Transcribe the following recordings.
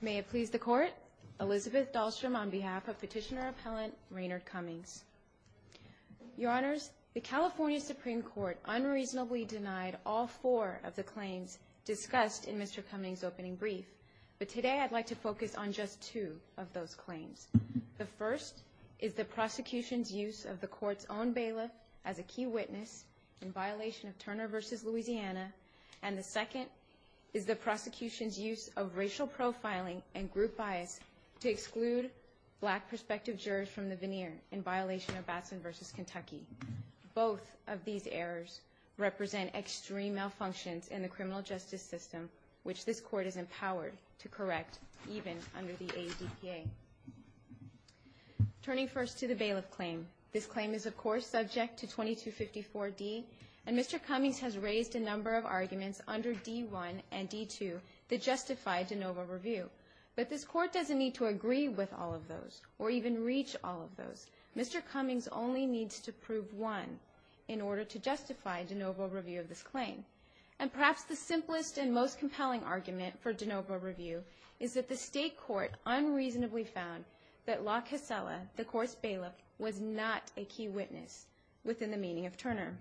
May it please the Court, Elizabeth Dahlstrom on behalf of Petitioner Appellant Raynard Cummings. Your Honors, the California Supreme Court unreasonably denied all four of the claims discussed in Mr. Cummings' opening brief, but today I'd like to focus on just two of those claims. The first is the prosecution's use of the Court's own bailiff as a key witness in violation of Turner v. Louisiana, and the second is the prosecution's use of racial profiling and group bias to exclude black prospective jurors from the veneer in violation of Batson v. Kentucky. Both of these errors represent extreme malfunctions in the criminal justice system, which this Court is empowered to correct even under the ADPA. Turning first to the bailiff claim, this claim is of course subject to 2254D, and Mr. Cummings has raised a number of arguments under D1 and D2 that justify de novo review. But this Court doesn't need to agree with all of those, or even reach all of those. Mr. Cummings only needs to prove one in order to justify de novo review of this claim. And perhaps the simplest and most compelling argument for de novo review is that the State Court unreasonably found that La Casella, the Court's bailiff, was not a key witness within the meeting of Turner.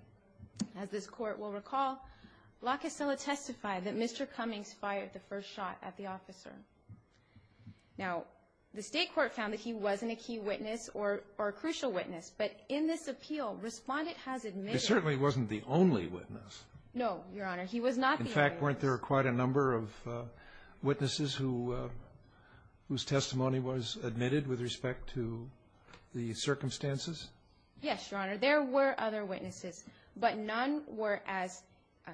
As this Court will recall, La Casella testified that Mr. Cummings fired the first shot at the officer. Now, the State Court found that he wasn't a key witness or a crucial witness, but in this appeal, Respondent has admitted There certainly wasn't the only witness. No, Your Honor, he was not the only witness. In fact, weren't there quite a number of witnesses whose testimony was admitted with respect to the circumstances? Yes, Your Honor. There were other witnesses, but none were as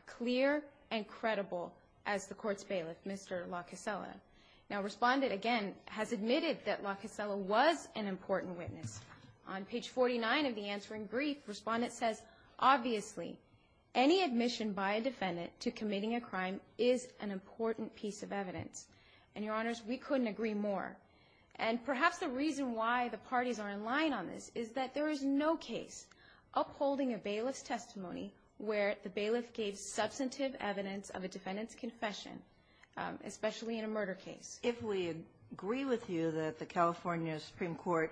clear and credible as the Court's bailiff, Mr. La Casella. Now, Respondent, again, has admitted that La Casella was an important witness. On page 49 of the answering brief, Respondent says, Obviously, any admission by a defendant to committing a crime is an important piece of evidence. And, Your Honors, we couldn't agree more. And perhaps the reason why the parties are in line on this is that there is no case upholding a bailiff's testimony where the bailiff gave substantive evidence of a defendant's confession, especially in a murder case. If we agree with you that the California Supreme Court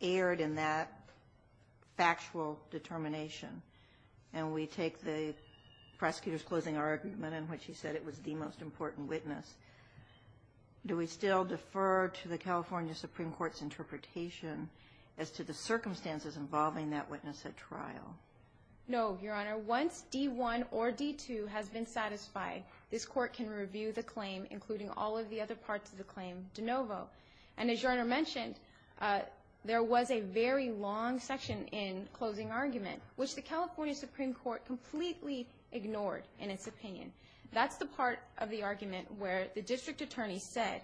erred in that factual determination, and we take the prosecutor's closing argument in which he said it was the most important witness, do we still defer to the California Supreme Court's interpretation as to the circumstances involving that witness at trial? No, Your Honor. Your Honor, once D-1 or D-2 has been satisfied, this Court can review the claim, including all of the other parts of the claim de novo. And as Your Honor mentioned, there was a very long section in closing argument, which the California Supreme Court completely ignored in its opinion. That's the part of the argument where the district attorney said,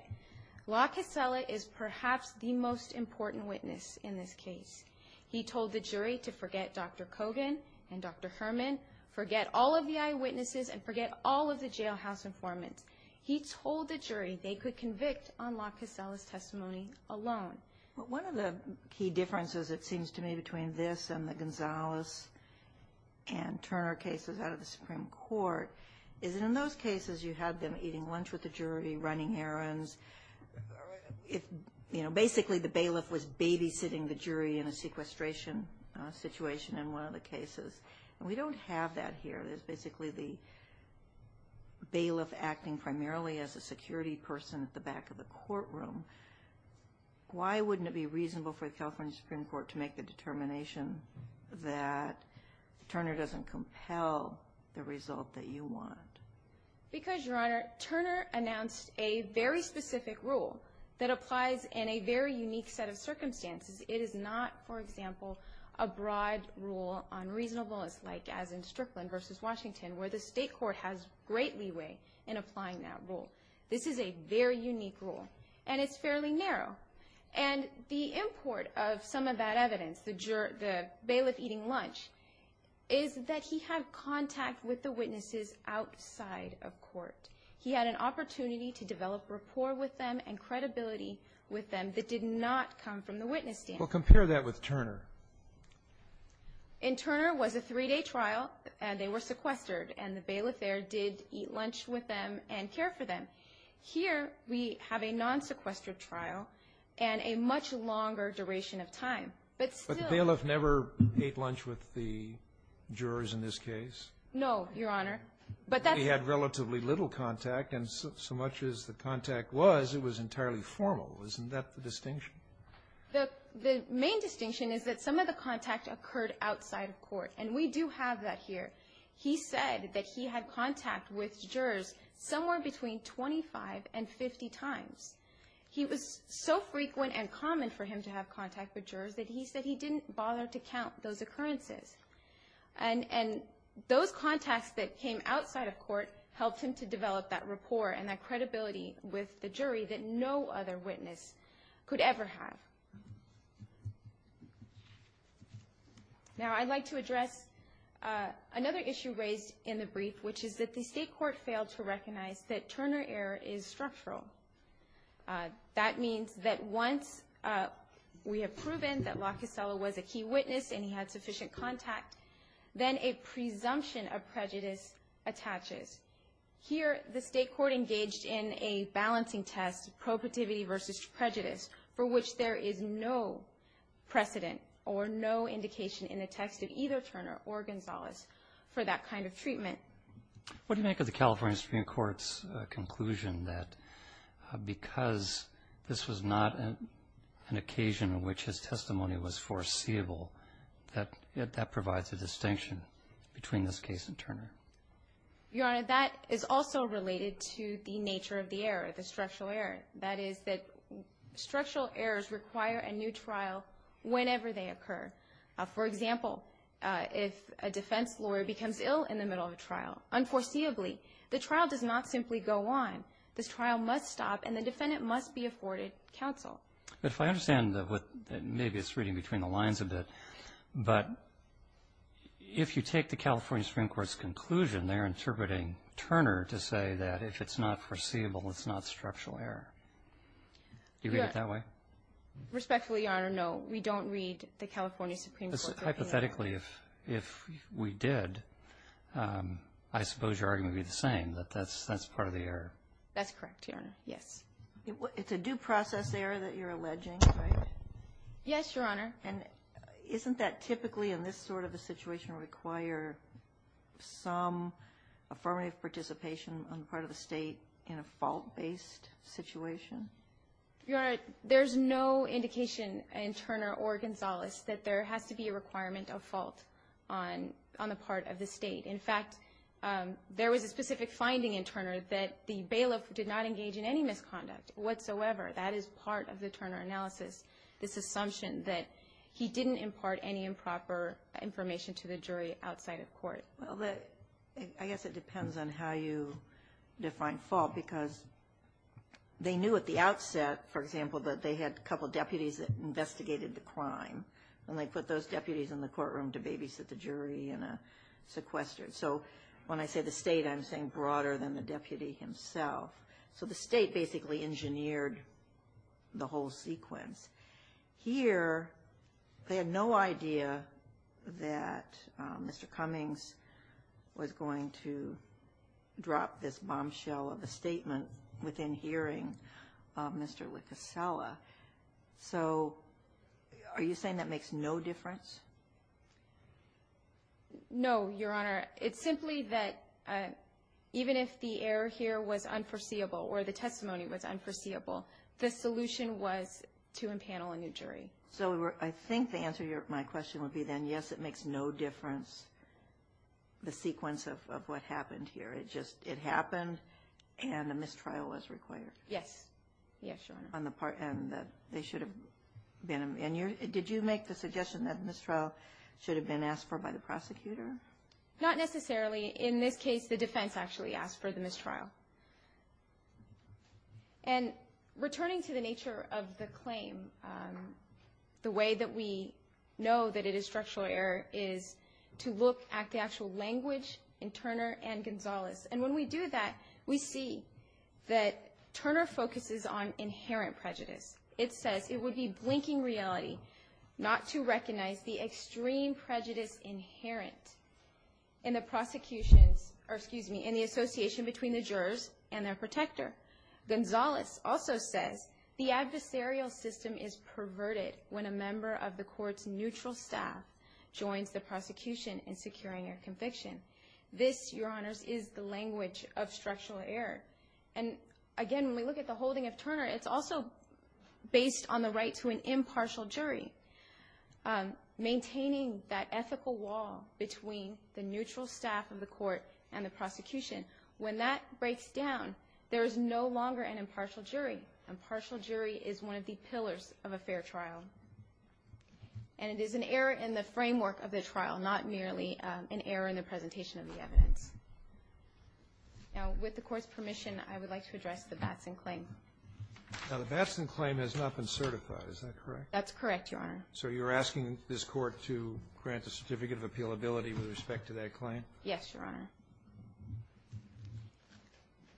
La Casella is perhaps the most important witness in this case. He told the jury to forget Dr. Kogan and Dr. Herman, forget all of the eyewitnesses, and forget all of the jailhouse informants. He told the jury they could convict on La Casella's testimony alone. But one of the key differences, it seems to me, between this and the Gonzales and Turner cases out of the Supreme Court is that in those cases you had them eating lunch with the jury, running errands. Basically, the bailiff was babysitting the jury in a sequestration situation in one of the cases. And we don't have that here. It's basically the bailiff acting primarily as a security person at the back of the courtroom. Why wouldn't it be reasonable for the California Supreme Court to make the determination that Turner doesn't compel the result that you want? Because, Your Honor, Turner announced a very specific rule that applies in a very unique set of circumstances. It is not, for example, a broad rule on reasonableness, like as in Strickland v. Washington, where the state court has great leeway in applying that rule. This is a very unique rule, and it's fairly narrow. And the import of some of that evidence, the bailiff eating lunch, is that he had contact with the witnesses outside of court. He had an opportunity to develop rapport with them and credibility with them that did not come from the witness stand. Well, compare that with Turner. In Turner, it was a three-day trial, and they were sequestered, and the bailiff there did eat lunch with them and care for them. Here, we have a non-sequestered trial and a much longer duration of time. But the bailiff never ate lunch with the jurors in this case? No, Your Honor. But he had relatively little contact, and so much as the contact was, it was entirely formal. Isn't that the distinction? The main distinction is that some of the contact occurred outside of court, and we do have that here. He said that he had contact with jurors somewhere between 25 and 50 times. He was so frequent and common for him to have contact with jurors that he said he didn't bother to count those occurrences. And those contacts that came outside of court helped him to develop that rapport and that credibility with the jury that no other witness could ever have. Now, I'd like to address another issue raised in the brief, which is that the state court failed to recognize that Turner error is structural. That means that once we have proven that Locasella was a key witness and he had sufficient contact, then a presumption of prejudice attaches. Here, the state court engaged in a balancing test, probativity versus prejudice, for which there is no precedent or no indication in the text of either Turner or Gonzalez for that kind of treatment. What do you make of the California Supreme Court's conclusion that because this was not an occasion in which his testimony was foreseeable, that that provides a distinction between this case and Turner? Your Honor, that is also related to the nature of the error, the structural error. That is that structural errors require a new trial whenever they occur. For example, if a defense lawyer becomes ill in the middle of a trial, unforeseeably, the trial does not simply go on. This trial must stop and the defendant must be afforded counsel. But if I understand, maybe it's reading between the lines a bit, but if you take the California Supreme Court's conclusion, they're interpreting Turner to say that if it's not foreseeable, it's not structural error. Do you read it that way? Respectfully, Your Honor, no. We don't read the California Supreme Court's opinion. Hypothetically, if we did, I suppose your argument would be the same, that that's part of the error. That's correct, Your Honor. Yes. It's a due process error that you're alleging, right? Yes, Your Honor. And isn't that typically, in this sort of a situation, require some affirmative participation on the part of the State in a fault-based situation? Your Honor, there's no indication in Turner or Gonzales that there has to be a requirement of fault on the part of the State. In fact, there was a specific finding in Turner that the bailiff did not engage in any misconduct whatsoever. That is part of the Turner analysis, this assumption that he didn't impart any improper information to the jury outside of court. Well, I guess it depends on how you define fault because they knew at the outset, for example, that they had a couple deputies that investigated the crime, and they put those deputies in the courtroom to babysit the jury in a sequester. So when I say the State, I'm saying broader than the deputy himself. So the State basically engineered the whole sequence. Here, they had no idea that Mr. Cummings was going to drop this bombshell of a statement within hearing of Mr. Licasella. So are you saying that makes no difference? No, Your Honor. It's simply that even if the error here was unforeseeable or the testimony was unforeseeable, the solution was to empanel a new jury. So I think the answer to my question would be then, yes, it makes no difference, the sequence of what happened here. It just happened, and a mistrial was required. Yes. Yes, Your Honor. And they should have been – and did you make the suggestion that the mistrial should have been asked for by the prosecutor? Not necessarily. In this case, the defense actually asked for the mistrial. And returning to the nature of the claim, the way that we know that it is structural error is to look at the actual language in Turner and Gonzales. And when we do that, we see that Turner focuses on inherent prejudice. It says it would be blinking reality not to recognize the extreme prejudice inherent in the prosecution's – or excuse me, in the association between the jurors and their protector. Gonzales also says the adversarial system is perverted when a member of the court's neutral staff joins the prosecution in securing a conviction. This, Your Honors, is the language of structural error. And, again, when we look at the holding of Turner, it's also based on the right to an impartial jury. Maintaining that ethical wall between the neutral staff of the court and the prosecution, when that breaks down, there is no longer an impartial jury. An impartial jury is one of the pillars of a fair trial. And it is an error in the framework of the trial, not merely an error in the presentation of the evidence. Now, with the court's permission, I would like to address the Batson claim. Now, the Batson claim has not been certified, is that correct? That's correct, Your Honor. So you're asking this court to grant a certificate of appealability with respect to that claim? Yes, Your Honor.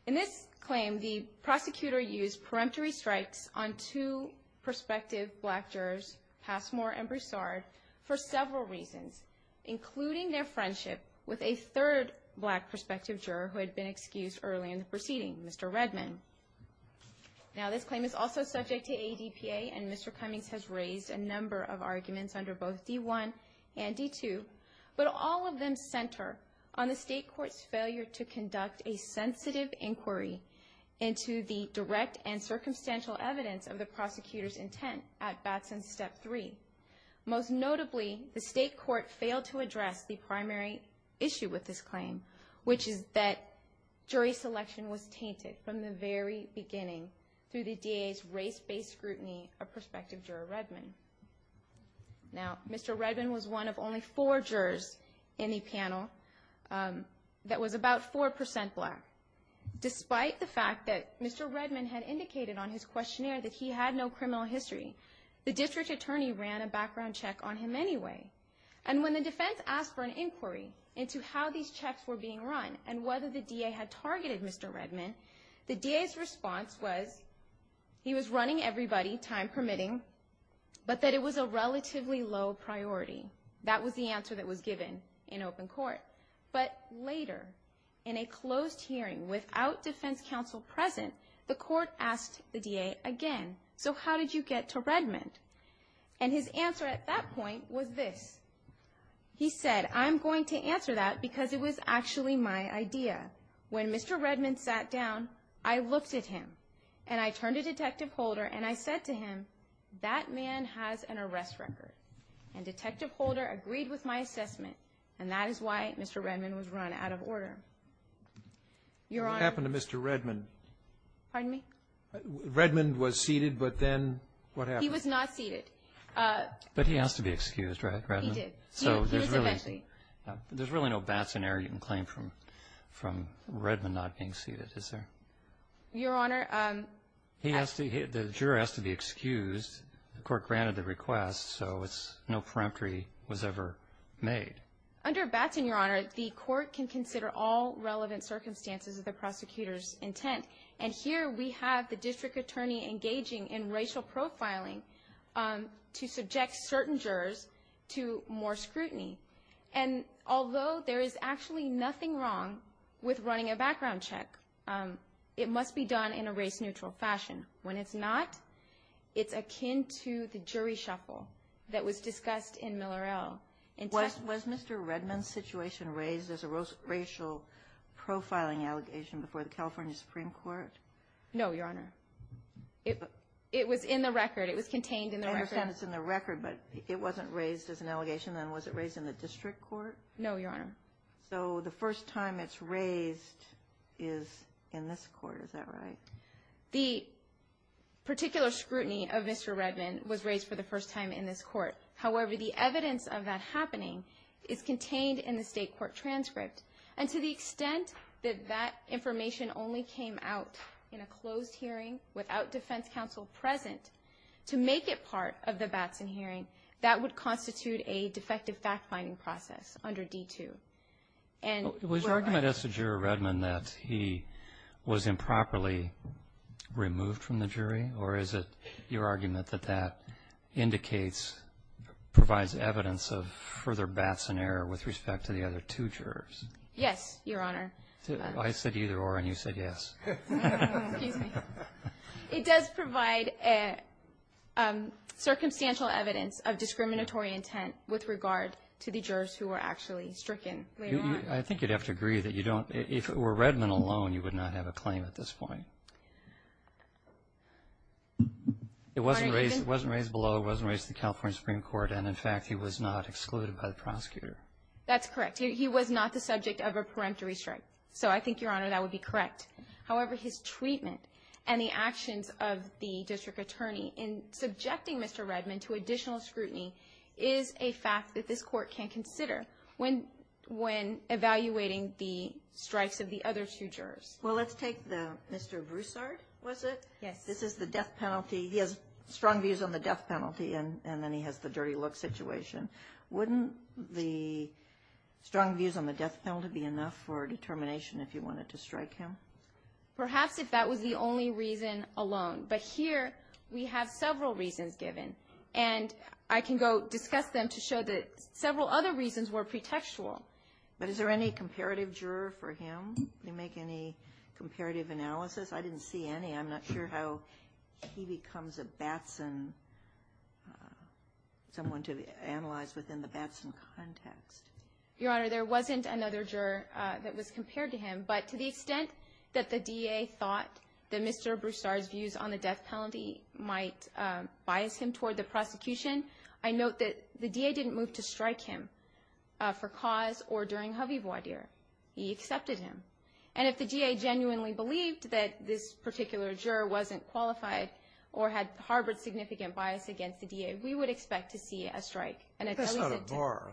In this claim, the prosecutor used peremptory strikes on two prospective black jurors, Passmore and Broussard, for several reasons, including their friendship with a third black prospective juror who had been excused early in the proceeding, Mr. Redman. Now, this claim is also subject to ADPA, and Mr. Cummings has raised a number of arguments under both D1 and D2, but all of them center on the state court's failure to conduct a sensitive inquiry into the direct and circumstantial evidence of the prosecutor's intent at Batson Step 3. Most notably, the state court failed to address the primary issue with this claim, which is that jury selection was tainted from the very beginning through the DA's race-based scrutiny of prospective juror Redman. Now, Mr. Redman was one of only four jurors in the panel that was about 4% black. Despite the fact that Mr. Redman had indicated on his questionnaire that he had no criminal history, the district attorney ran a background check on him anyway. And when the defense asked for an inquiry into how these checks were being run and whether the DA had targeted Mr. Redman, the DA's response was he was running everybody, time permitting, but that it was a relatively low priority. That was the answer that was given in open court. But later, in a closed hearing without defense counsel present, the court asked the DA again, so how did you get to Redman? And his answer at that point was this. He said, I'm going to answer that because it was actually my idea. When Mr. Redman sat down, I looked at him, and I turned to Detective Holder, and I said to him, that man has an arrest record. And Detective Holder agreed with my assessment, and that is why Mr. Redman was run out of order. Your Honor. What happened to Mr. Redman? Pardon me? Redman was seated, but then what happened? He was not seated. But he has to be excused, right, Redman? He did. He was eventually. There's really no Batson error you can claim from Redman not being seated, is there? Your Honor. The juror has to be excused. The court granted the request, so no preemptory was ever made. Under Batson, Your Honor, the court can consider all relevant circumstances of the prosecutor's intent. And here we have the district attorney engaging in racial profiling to subject certain jurors to more scrutiny. And although there is actually nothing wrong with running a background check, it must be done in a race-neutral fashion. When it's not, it's akin to the jury shuffle that was discussed in Millerell. Was Mr. Redman's situation raised as a racial profiling allegation before the California Supreme Court? No, Your Honor. It was in the record. It was contained in the record. I understand it's in the record, but it wasn't raised as an allegation. Then was it raised in the district court? No, Your Honor. So the first time it's raised is in this court, is that right? The particular scrutiny of Mr. Redman was raised for the first time in this court. However, the evidence of that happening is contained in the state court transcript. And to the extent that that information only came out in a closed hearing without defense counsel present to make it part of the Batson hearing, that would constitute a defective fact-finding process under D-2. Was your argument as to Juror Redman that he was improperly removed from the jury, or is it your argument that that indicates, provides evidence of further Batson error with respect to the other two jurors? Yes, Your Honor. I said either or, and you said yes. Excuse me. It does provide circumstantial evidence of discriminatory intent with regard to the jurors who were actually stricken later on. I think you'd have to agree that you don't, if it were Redman alone, you would not have a claim at this point. Pardon me? It wasn't raised below. It wasn't raised in the California Supreme Court. And, in fact, he was not excluded by the prosecutor. That's correct. He was not the subject of a peremptory strike. So I think, Your Honor, that would be correct. However, his treatment and the actions of the district attorney in subjecting Mr. Redman to additional scrutiny is a fact that this Court can consider. When evaluating the strikes of the other two jurors. Well, let's take the Mr. Broussard, was it? Yes. This is the death penalty. He has strong views on the death penalty, and then he has the dirty look situation. Wouldn't the strong views on the death penalty be enough for determination if you wanted to strike him? Perhaps if that was the only reason alone. But here we have several reasons given. And I can go discuss them to show that several other reasons were pretextual. But is there any comparative juror for him? Did he make any comparative analysis? I didn't see any. I'm not sure how he becomes a Batson, someone to analyze within the Batson context. Your Honor, there wasn't another juror that was compared to him. But to the extent that the D.A. thought that Mr. Broussard's views on the death penalty might bias him toward the prosecution, I note that the D.A. didn't move to strike him for cause or during Javier Boidier. He accepted him. And if the D.A. genuinely believed that this particular juror wasn't qualified or had harbored significant bias against the D.A., we would expect to see a strike. That's not a bar.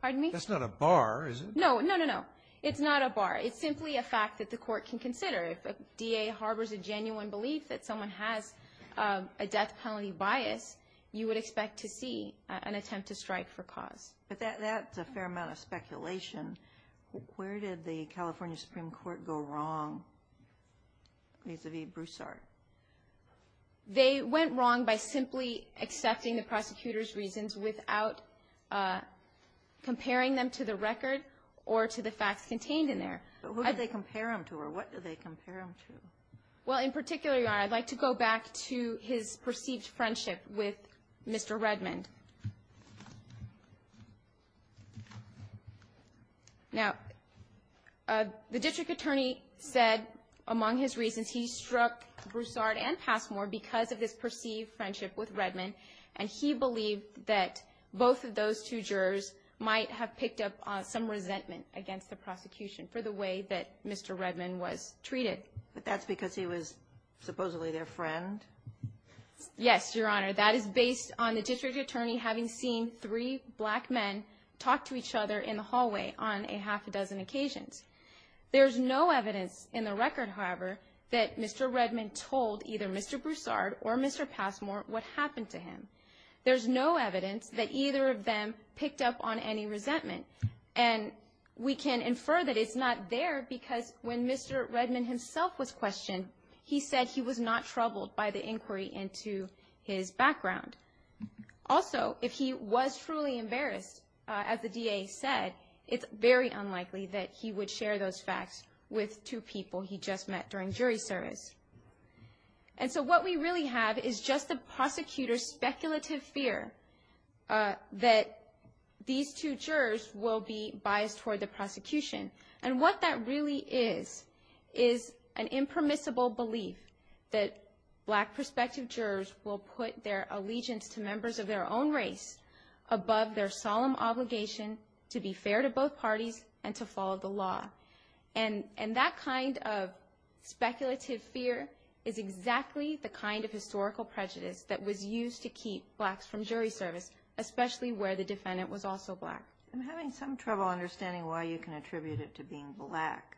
Pardon me? That's not a bar, is it? No, no, no, no. It's not a bar. It's simply a fact that the court can consider. If a D.A. harbors a genuine belief that someone has a death penalty bias, you would expect to see an attempt to strike for cause. But that's a fair amount of speculation. Where did the California Supreme Court go wrong vis-à-vis Broussard? They went wrong by simply accepting the prosecutor's reasons without comparing them to the record or to the facts contained in there. But who did they compare him to, or what did they compare him to? Well, in particular, Your Honor, I'd like to go back to his perceived friendship with Mr. Redmond. Now, the district attorney said among his reasons he struck Broussard and Passmore because of his perceived friendship with Redmond, and he believed that both of those two jurors might have picked up some resentment against the prosecution for the way that Mr. Redmond was treated. But that's because he was supposedly their friend? Yes, Your Honor. That is based on the district attorney having seen three black men talk to each other in the hallway on a half a dozen occasions. There's no evidence in the record, however, that Mr. Redmond told either Mr. Broussard or Mr. Passmore what happened to him. There's no evidence that either of them picked up on any resentment, and we can infer that it's not there because when Mr. Redmond himself was questioned, he said he was not troubled by the inquiry into his background. Also, if he was truly embarrassed, as the DA said, it's very unlikely that he would share those facts with two people he just met during jury service. And so what we really have is just the prosecutor's speculative fear that these two jurors will be biased toward the prosecution. And what that really is is an impermissible belief that black prospective jurors will put their allegiance to members of their own race above their solemn obligation to be fair to both parties and to follow the law. And that kind of speculative fear is exactly the kind of historical prejudice that was used to keep blacks from jury service, especially where the defendant was also black. I'm having some trouble understanding why you can attribute it to being black.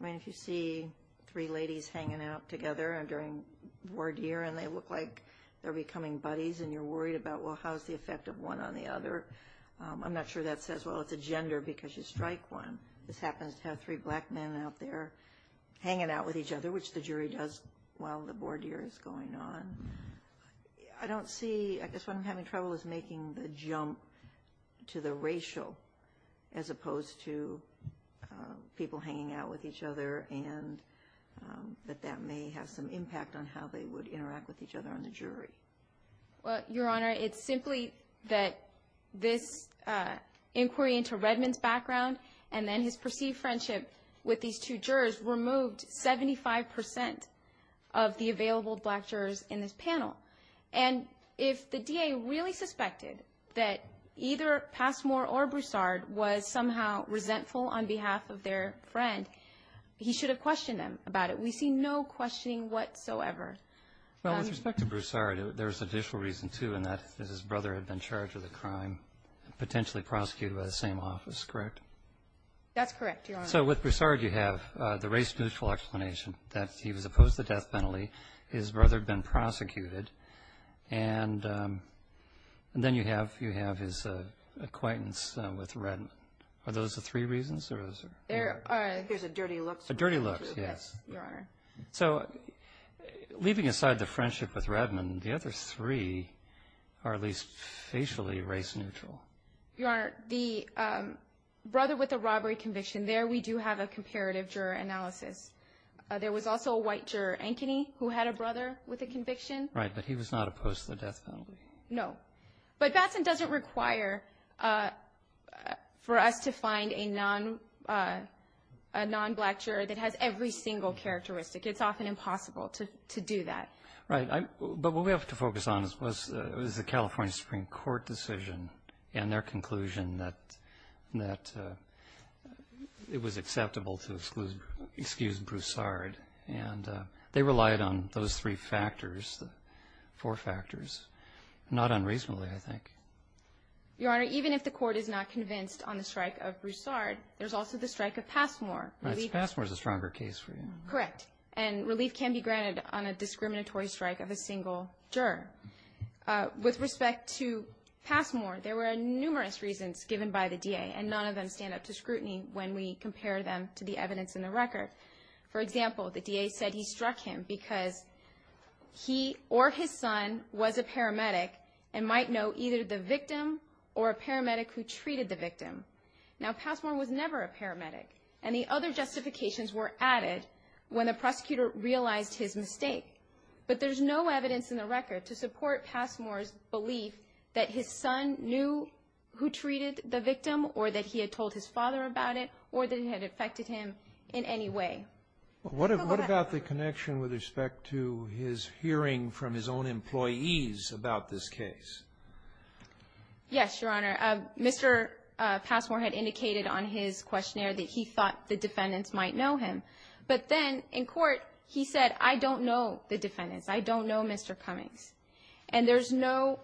I mean, if you see three ladies hanging out together during voir dire and they look like they're becoming buddies and you're worried about, well, how's the effect of one on the other? I'm not sure that says, well, it's a gender because you strike one. This happens to have three black men out there hanging out with each other, which the jury does while the voir dire is going on. I don't see, I guess what I'm having trouble is making the jump to the racial as opposed to people hanging out with each other and that that may have some impact on how they would interact with each other on the jury. Well, Your Honor, it's simply that this inquiry into Redmond's background and then his perceived friendship with these two jurors removed 75 percent of the available black jurors in this panel. And if the DA really suspected that either Passmore or Broussard was somehow resentful on behalf of their friend, he should have questioned them about it. We see no questioning whatsoever. Well, with respect to Broussard, there's additional reason, too, that his brother had been charged with a crime and potentially prosecuted by the same office, correct? That's correct, Your Honor. So with Broussard, you have the race-neutral explanation that he was opposed to death penalty, his brother had been prosecuted, and then you have his acquaintance with Redmond. Are those the three reasons? There's a dirty look. A dirty look, yes. Yes, Your Honor. So leaving aside the friendship with Redmond, the other three are at least facially race-neutral. Your Honor, the brother with the robbery conviction, there we do have a comparative juror analysis. There was also a white juror, Ankeny, who had a brother with a conviction. Right, but he was not opposed to the death penalty. No. But Batson doesn't require for us to find a non-black juror that has every single characteristic. It's often impossible to do that. Right, but what we have to focus on is the California Supreme Court decision and their conclusion that it was acceptable to excuse Broussard, and they relied on those three factors, four factors, not unreasonably, I think. Your Honor, even if the court is not convinced on the strike of Broussard, there's also the strike of Passmore. Right, so Passmore is a stronger case for you. Correct, and relief can be granted on a discriminatory strike of a single juror. With respect to Passmore, there were numerous reasons given by the DA, and none of them stand up to scrutiny when we compare them to the evidence in the record. For example, the DA said he struck him because he or his son was a paramedic and might know either the victim or a paramedic who treated the victim. Now, Passmore was never a paramedic, and the other justifications were added when the prosecutor realized his mistake. But there's no evidence in the record to support Passmore's belief that his son knew who treated the victim or that he had told his father about it or that it had affected him in any way. What about the connection with respect to his hearing from his own employees about this case? Yes, Your Honor. Mr. Passmore had indicated on his questionnaire that he thought the defendants might know him. But then in court, he said, I don't know the defendants. I don't know Mr. Cummings. And there's no,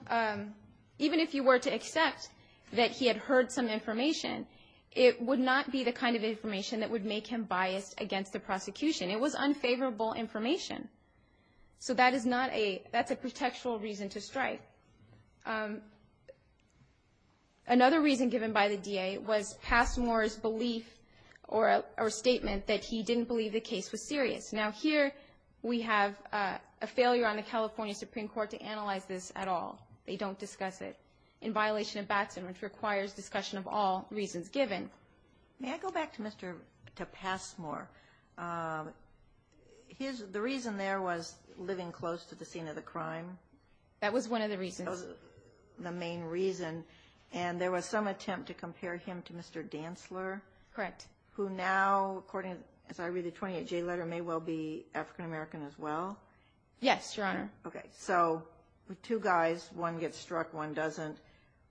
even if you were to accept that he had heard some information, it would not be the kind of information that would make him biased against the prosecution. It was unfavorable information. So that is not a, that's a contextual reason to strike. Another reason given by the DA was Passmore's belief or statement that he didn't believe the case was serious. Now, here we have a failure on the California Supreme Court to analyze this at all. They don't discuss it. In violation of Batson, which requires discussion of all reasons given. May I go back to Mr. Passmore? The reason there was living close to the scene of the crime. That was one of the reasons. That was the main reason. And there was some attempt to compare him to Mr. Dantzler. Correct. Who now, according, as I read the 28-J letter, may well be African American as well? Yes, Your Honor. Okay. So two guys, one gets struck, one doesn't.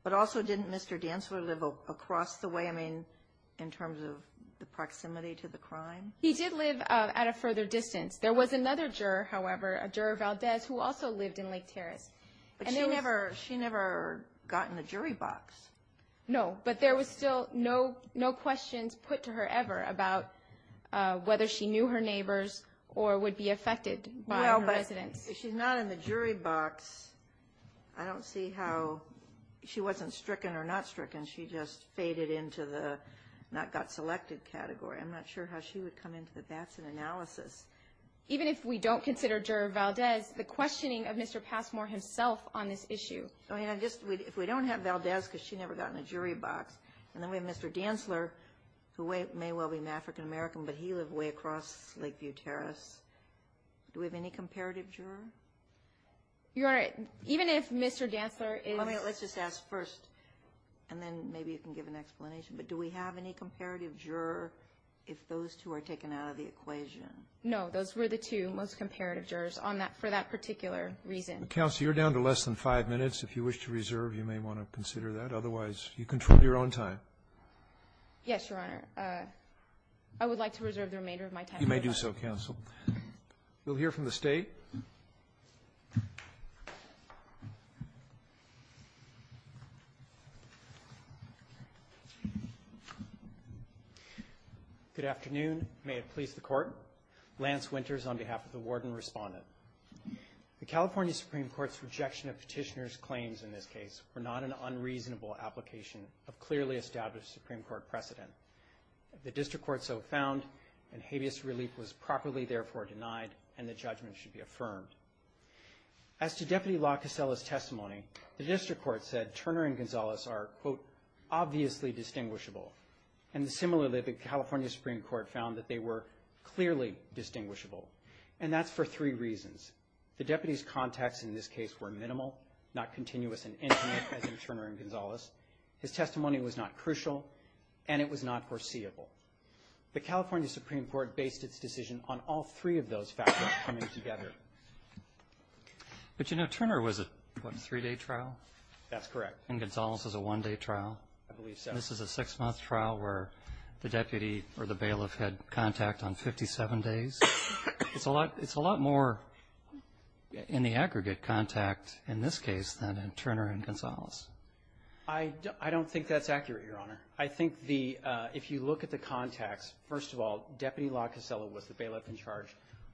But also didn't Mr. Dantzler live across the way, I mean, in terms of the proximity to the crime? He did live at a further distance. There was another juror, however, a juror Valdez, who also lived in Lake Terrace. But she never got in the jury box. No. But there was still no questions put to her ever about whether she knew her neighbors or would be affected by her residence. Well, but if she's not in the jury box, I don't see how she wasn't stricken or not stricken. She just faded into the not got selected category. I'm not sure how she would come into the Batson analysis. Even if we don't consider juror Valdez, the questioning of Mr. Passmore himself on this issue. I mean, if we don't have Valdez, because she never got in the jury box, and then we have Mr. Dantzler, who may well be an African American, but he lived way across Lakeview Terrace, do we have any comparative juror? Your Honor, even if Mr. Dantzler is ---- Let's just ask first, and then maybe you can give an explanation. But do we have any comparative juror if those two are taken out of the equation? No. Those were the two most comparative jurors on that, for that particular reason. Counsel, you're down to less than five minutes. If you wish to reserve, you may want to consider that. Otherwise, you control your own time. Yes, Your Honor. I would like to reserve the remainder of my time. You may do so, counsel. We'll hear from the State. Good afternoon. May it please the Court. Lance Winters on behalf of the Warden Respondent. The California Supreme Court's rejection of petitioner's claims in this case were not an unreasonable application of clearly established Supreme Court precedent. The District Court so found, and habeas relief was properly, therefore, denied, and the judgment should be affirmed. As to Deputy LaCassella's testimony, the District Court said Turner and Gonzalez are, quote, The deputy's contacts in this case were minimal, not continuous in any way, as in Turner and Gonzalez. His testimony was not crucial, and it was not foreseeable. The California Supreme Court based its decision on all three of those factors coming together. But, you know, Turner was a, what, a three-day trial? That's correct. And Gonzalez was a one-day trial. I believe so. This is a six-month trial where the deputy or the bailiff had contact on 57 days. It's a lot more in the aggregate contact in this case than in Turner and Gonzalez. I don't think that's accurate, Your Honor. I think the, if you look at the contacts, first of all, Deputy LaCassella was the bailiff in charge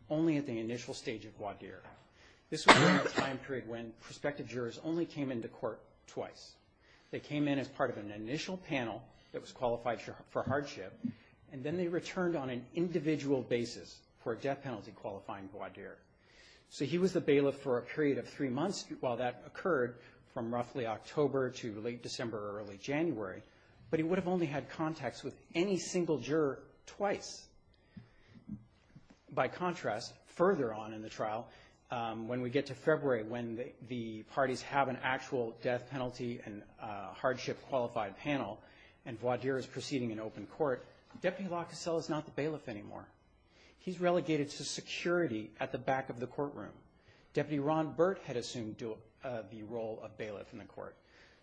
only at the initial stage of voir dire. This was a time period when prospective jurors only came into court twice. They came in as part of an initial panel that was qualified for hardship, and then they returned on an individual basis. For a death penalty qualifying voir dire. So he was the bailiff for a period of three months while that occurred, from roughly October to late December or early January. But he would have only had contacts with any single juror twice. By contrast, further on in the trial, when we get to February, when the parties have an actual death penalty and hardship qualified panel, and voir dire is proceeding in open court, Deputy LaCassella is not the bailiff anymore. He's relegated to security at the back of the courtroom. Deputy Ron Burt had assumed the role of bailiff in the court.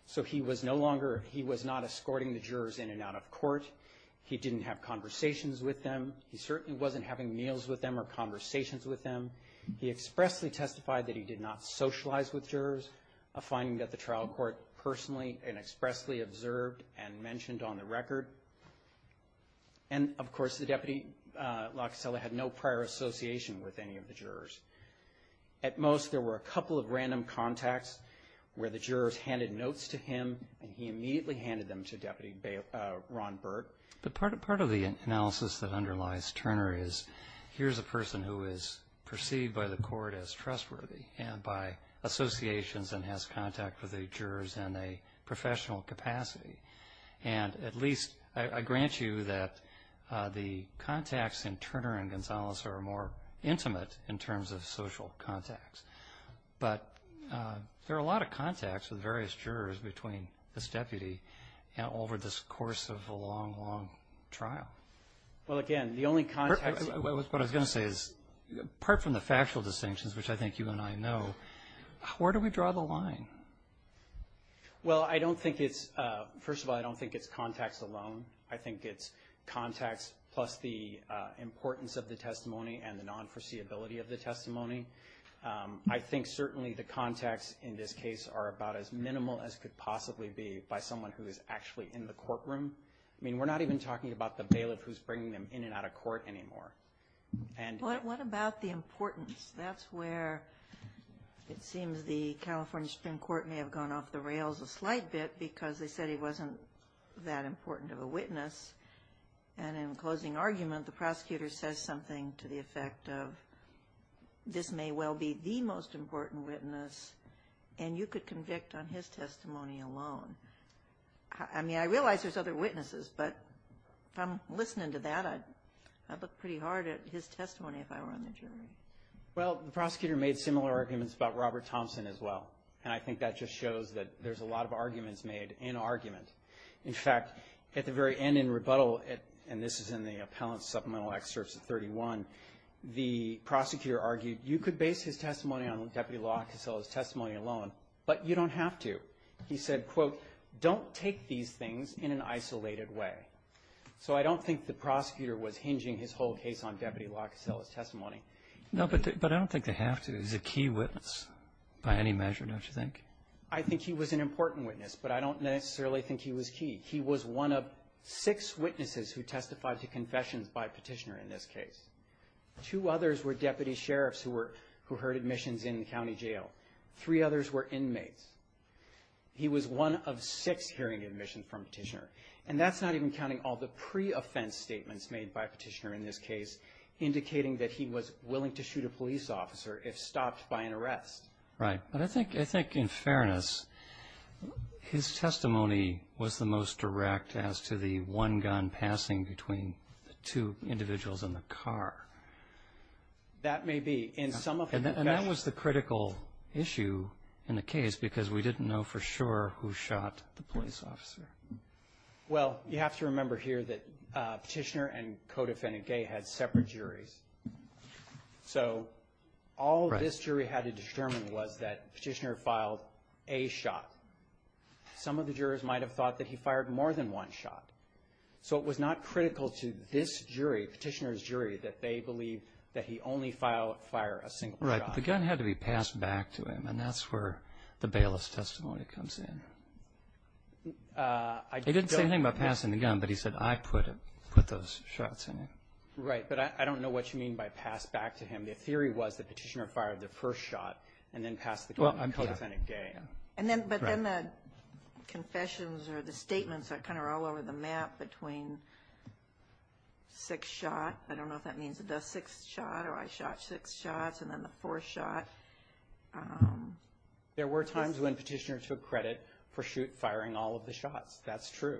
So he was no longer, he was not escorting the jurors in and out of court. He didn't have conversations with them. He certainly wasn't having meals with them or conversations with them. He expressly testified that he did not socialize with jurors, a finding that the trial court personally and expressly observed and mentioned on the record. And, of course, the Deputy LaCassella had no prior association with any of the jurors. At most, there were a couple of random contacts where the jurors handed notes to him, and he immediately handed them to Deputy Ron Burt. But part of the analysis that underlies Turner is here's a person who is perceived by the court as trustworthy and by associations and has contact with the jurors in a professional capacity. And at least I grant you that the contacts in Turner and Gonzalez are more intimate in terms of social contacts. But there are a lot of contacts with various jurors between this deputy and over this course of a long, long trial. Well, again, the only contact. What I was going to say is, apart from the factual distinctions, which I think you and I know, where do we draw the line? Well, I don't think it's, first of all, I don't think it's contacts alone. I think it's contacts plus the importance of the testimony and the non-foreseeability of the testimony. I think certainly the contacts in this case are about as minimal as could possibly be by someone who is actually in the courtroom. I mean, we're not even talking about the bailiff who's bringing them in and out of court anymore. What about the importance? That's where it seems the California Supreme Court may have gone off the rails a slight bit because they said he wasn't that important of a witness. And in closing argument, the prosecutor says something to the effect of this may well be the most important witness, and you could convict on his testimony alone. I mean, I realize there's other witnesses, but if I'm listening to that, I'd look pretty hard at his testimony if I were on the jury. Well, the prosecutor made similar arguments about Robert Thompson as well, and I think that just shows that there's a lot of arguments made in argument. In fact, at the very end in rebuttal, and this is in the appellant supplemental excerpts at 31, the prosecutor argued you could base his testimony on Deputy Law Cassella's testimony alone, but you don't have to. He said, quote, don't take these things in an isolated way. So I don't think the prosecutor was hinging his whole case on Deputy Law Cassella's testimony. No, but I don't think they have to. He's a key witness by any measure, don't you think? I think he was an important witness, but I don't necessarily think he was key. He was one of six witnesses who testified to confessions by Petitioner in this case. Two others were deputy sheriffs who heard admissions in the county jail. Three others were inmates. He was one of six hearing admissions from Petitioner. And that's not even counting all the pre-offense statements made by Petitioner in this case, indicating that he was willing to shoot a police officer if stopped by an arrest. Right. But I think in fairness, his testimony was the most direct as to the one-gun passing between the two individuals in the car. That may be. And that was the critical issue in the case because we didn't know for sure who shot the police officer. Well, you have to remember here that Petitioner and Codefendant Gay had separate juries. So all this jury had to determine was that Petitioner filed a shot. Some of the jurors might have thought that he fired more than one shot. So it was not critical to this jury, Petitioner's jury, that they believe that he only filed or fired a single shot. Right. But the gun had to be passed back to him. And that's where the bailiff's testimony comes in. I don't know. He didn't say anything about passing the gun, but he said, I put it, put those shots in it. Right. But I don't know what you mean by passed back to him. The theory was that Petitioner fired the first shot and then passed the gun to Codefendant Gay. But then the confessions or the statements are kind of all over the map between six shot. I don't know if that means the sixth shot or I shot six shots and then the fourth shot. There were times when Petitioner took credit for firing all of the shots. That's true.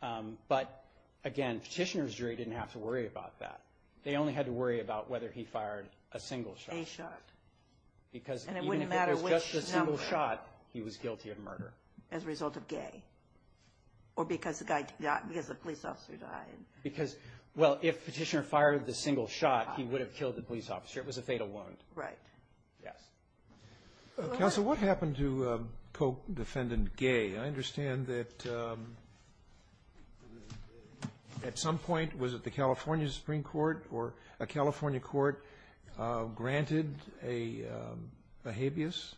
But, again, Petitioner's jury didn't have to worry about that. They only had to worry about whether he fired a single shot. A shot. And it wouldn't matter which number. Because even if it was just a single shot, he was guilty of murder. As a result of Gay. Or because the police officer died. Because, well, if Petitioner fired the single shot, he would have killed the police officer. It was a fatal wound. Right. Yes. Counsel, what happened to Codefendant Gay? I understand that at some point, was it the California Supreme Court or a California court granted a habeas?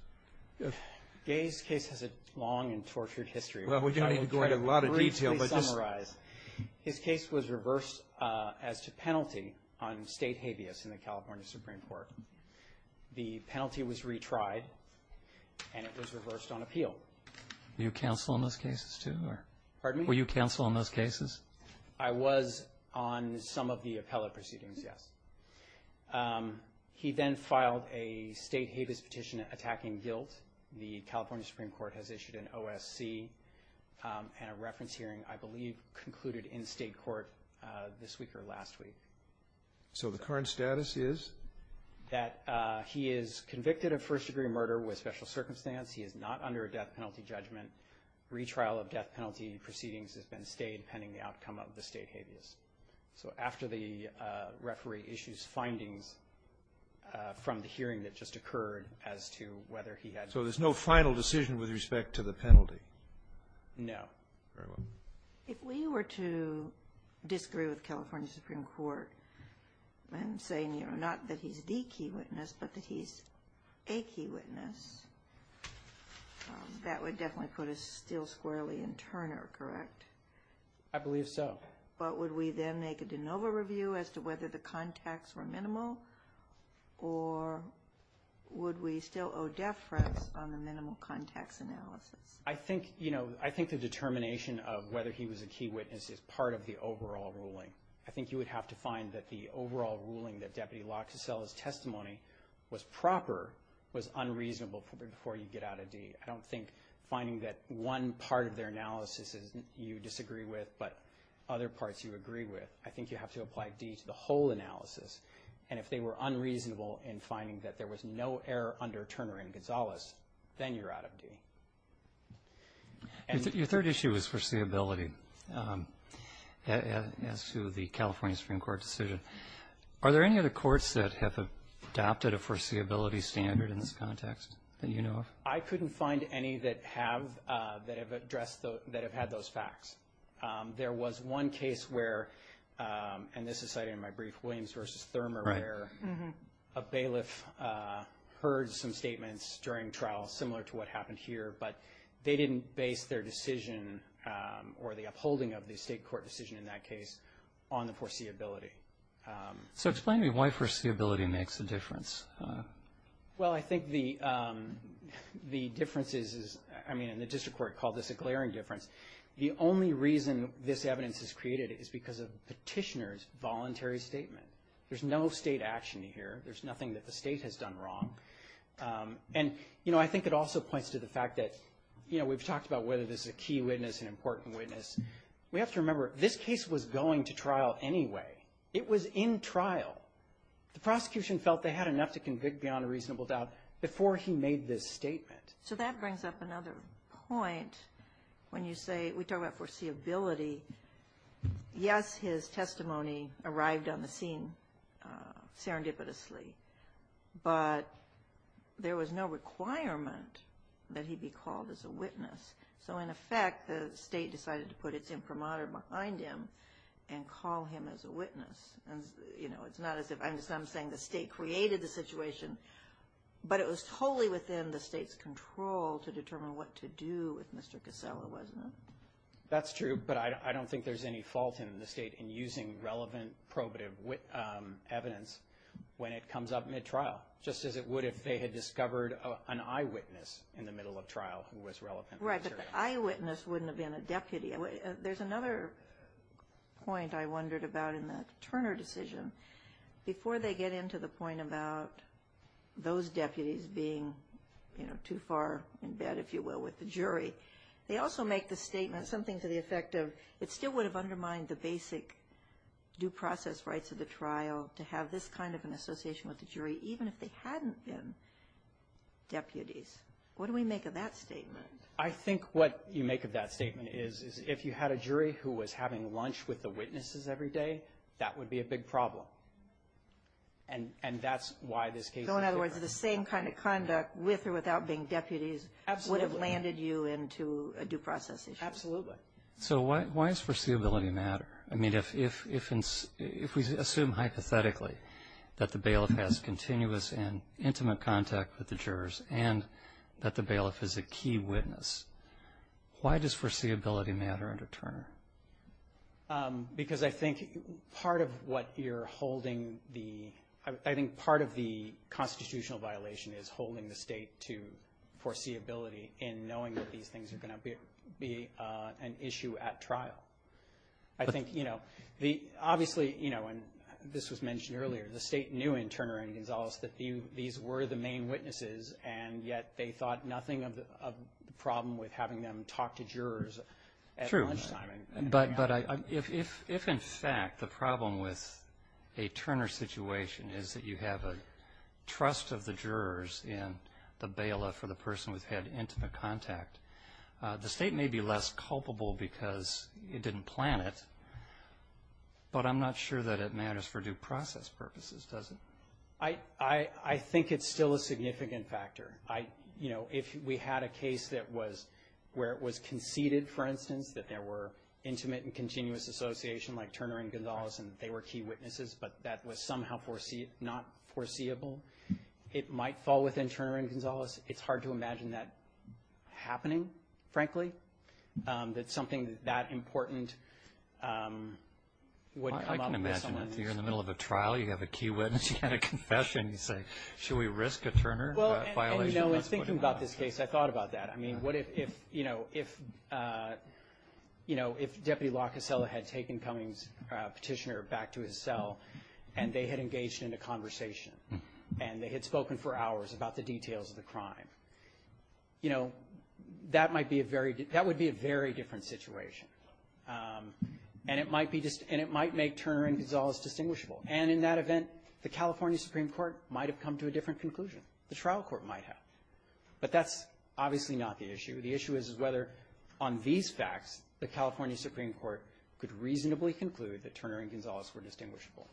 Gay's case has a long and tortured history. Well, we don't need to go into a lot of detail. Briefly summarize. His case was reversed as to penalty on state habeas in the California Supreme Court. The penalty was retried. And it was reversed on appeal. Were you counsel in those cases, too? Pardon me? Were you counsel in those cases? I was on some of the appellate proceedings, yes. He then filed a state habeas petition attacking guilt. The California Supreme Court has issued an OSC and a reference hearing, I believe, concluded in state court this week or last week. So the current status is? That he is convicted of first degree murder with special circumstance. He is not under a death penalty judgment. Retrial of death penalty proceedings has been stayed pending the outcome of the state habeas. So after the referee issues findings from the hearing that just occurred as to whether he had. So there's no final decision with respect to the penalty? No. Very well. If we were to disagree with California Supreme Court and say not that he's the key witness, but that he's a key witness. That would definitely put us still squarely in Turner, correct? I believe so. But would we then make a de novo review as to whether the contacts were minimal? Or would we still owe deference on the minimal contacts analysis? I think, you know, I think the determination of whether he was a key witness is part of the overall ruling. I think you would have to find that the overall ruling that Deputy Locke's testimony was proper was unreasonable before you get out of D. I don't think finding that one part of their analysis is you disagree with, but other parts you agree with. I think you have to apply D to the whole analysis. And if they were unreasonable in finding that there was no error under Turner and Gonzalez, then you're out of D. Your third issue was foreseeability as to the California Supreme Court decision. Are there any other courts that have adopted a foreseeability standard in this context that you know of? I couldn't find any that have addressed those, that have had those facts. There was one case where, and this is cited in my brief, Williams v. Thurman, where a bailiff heard some statements during trial similar to what happened here, but they didn't base their decision or the upholding of the state court decision in that case on the foreseeability. So explain to me why foreseeability makes a difference. Well, I think the difference is, I mean, the district court called this a glaring difference. The only reason this evidence is created is because of the petitioner's voluntary statement. There's no state action here. There's nothing that the state has done wrong. And, you know, I think it also points to the fact that, you know, we've talked about whether this is a key witness, an important witness. We have to remember, this case was going to trial anyway. It was in trial. The prosecution felt they had enough to convict beyond a reasonable doubt before he made this statement. So that brings up another point when you say we talk about foreseeability. Yes, his testimony arrived on the scene serendipitously, but there was no requirement that he be called as a witness. So, in effect, the state decided to put its imprimatur behind him and call him as a witness. And, you know, it's not as if I'm saying the state created the situation, but it was totally within the state's control to determine what to do with Mr. Casella, wasn't it? That's true, but I don't think there's any fault in the state in using relevant probative evidence when it comes up mid-trial, just as it would if they had discovered an eyewitness in the middle of trial who was relevant. Right, but the eyewitness wouldn't have been a deputy. There's another point I wondered about in the Turner decision. Before they get into the point about those deputies being, you know, too far in bed, if you will, with the jury, they also make the statement something to the effect of it still would have undermined the basic due process rights of the trial to have this kind of an association with the jury, even if they hadn't been deputies. What do we make of that statement? I think what you make of that statement is if you had a jury who was having lunch with the witnesses every day, that would be a big problem, and that's why this case is different. So in other words, the same kind of conduct with or without being deputies would have landed you into a due process issue. Absolutely. So why does foreseeability matter? I mean, if we assume hypothetically that the bailiff has continuous and intimate contact with the jurors and that the bailiff is a key witness, why does foreseeability matter under Turner? Because I think part of what you're holding the, I think part of the constitutional violation is holding the state to foreseeability in knowing that these things are going to be an issue at trial. I think, you know, obviously, you know, and this was mentioned earlier, the state knew in Turner and Gonzales that these were the main witnesses, and yet they thought nothing of the problem with having them talk to jurors at lunchtime. But if in fact the problem with a Turner situation is that you have a trust of the jurors in the bailiff or the person who's had intimate contact, the state may be less culpable because it didn't plan it, but I'm not sure that it matters for due process purposes, does it? I think it's still a significant factor. I, you know, if we had a case that was, where it was conceded, for instance, that there were intimate and continuous association, like Turner and Gonzales, and they were key witnesses, but that was somehow not foreseeable, it might fall within Turner and Gonzales. It's hard to imagine that happening, frankly, that something that important wouldn't come up. I can imagine if you're in the middle of a trial, you have a key witness, you had a confession, you say, should we risk a Turner violation? Well, you know, in thinking about this case, I thought about that. I mean, what if, you know, if, you know, if Deputy LaCassella had taken Cummings' Petitioner back to his cell, and they had engaged in a conversation, and they had spoken for hours about the details of the crime, you know, that might be a very — that would be a very different situation, and it might be just — and it might make Turner and Gonzales distinguishable. But that's obviously not the issue. The issue is whether, on these facts, the California Supreme Court could reasonably conclude that Turner and Gonzales were distinguishable.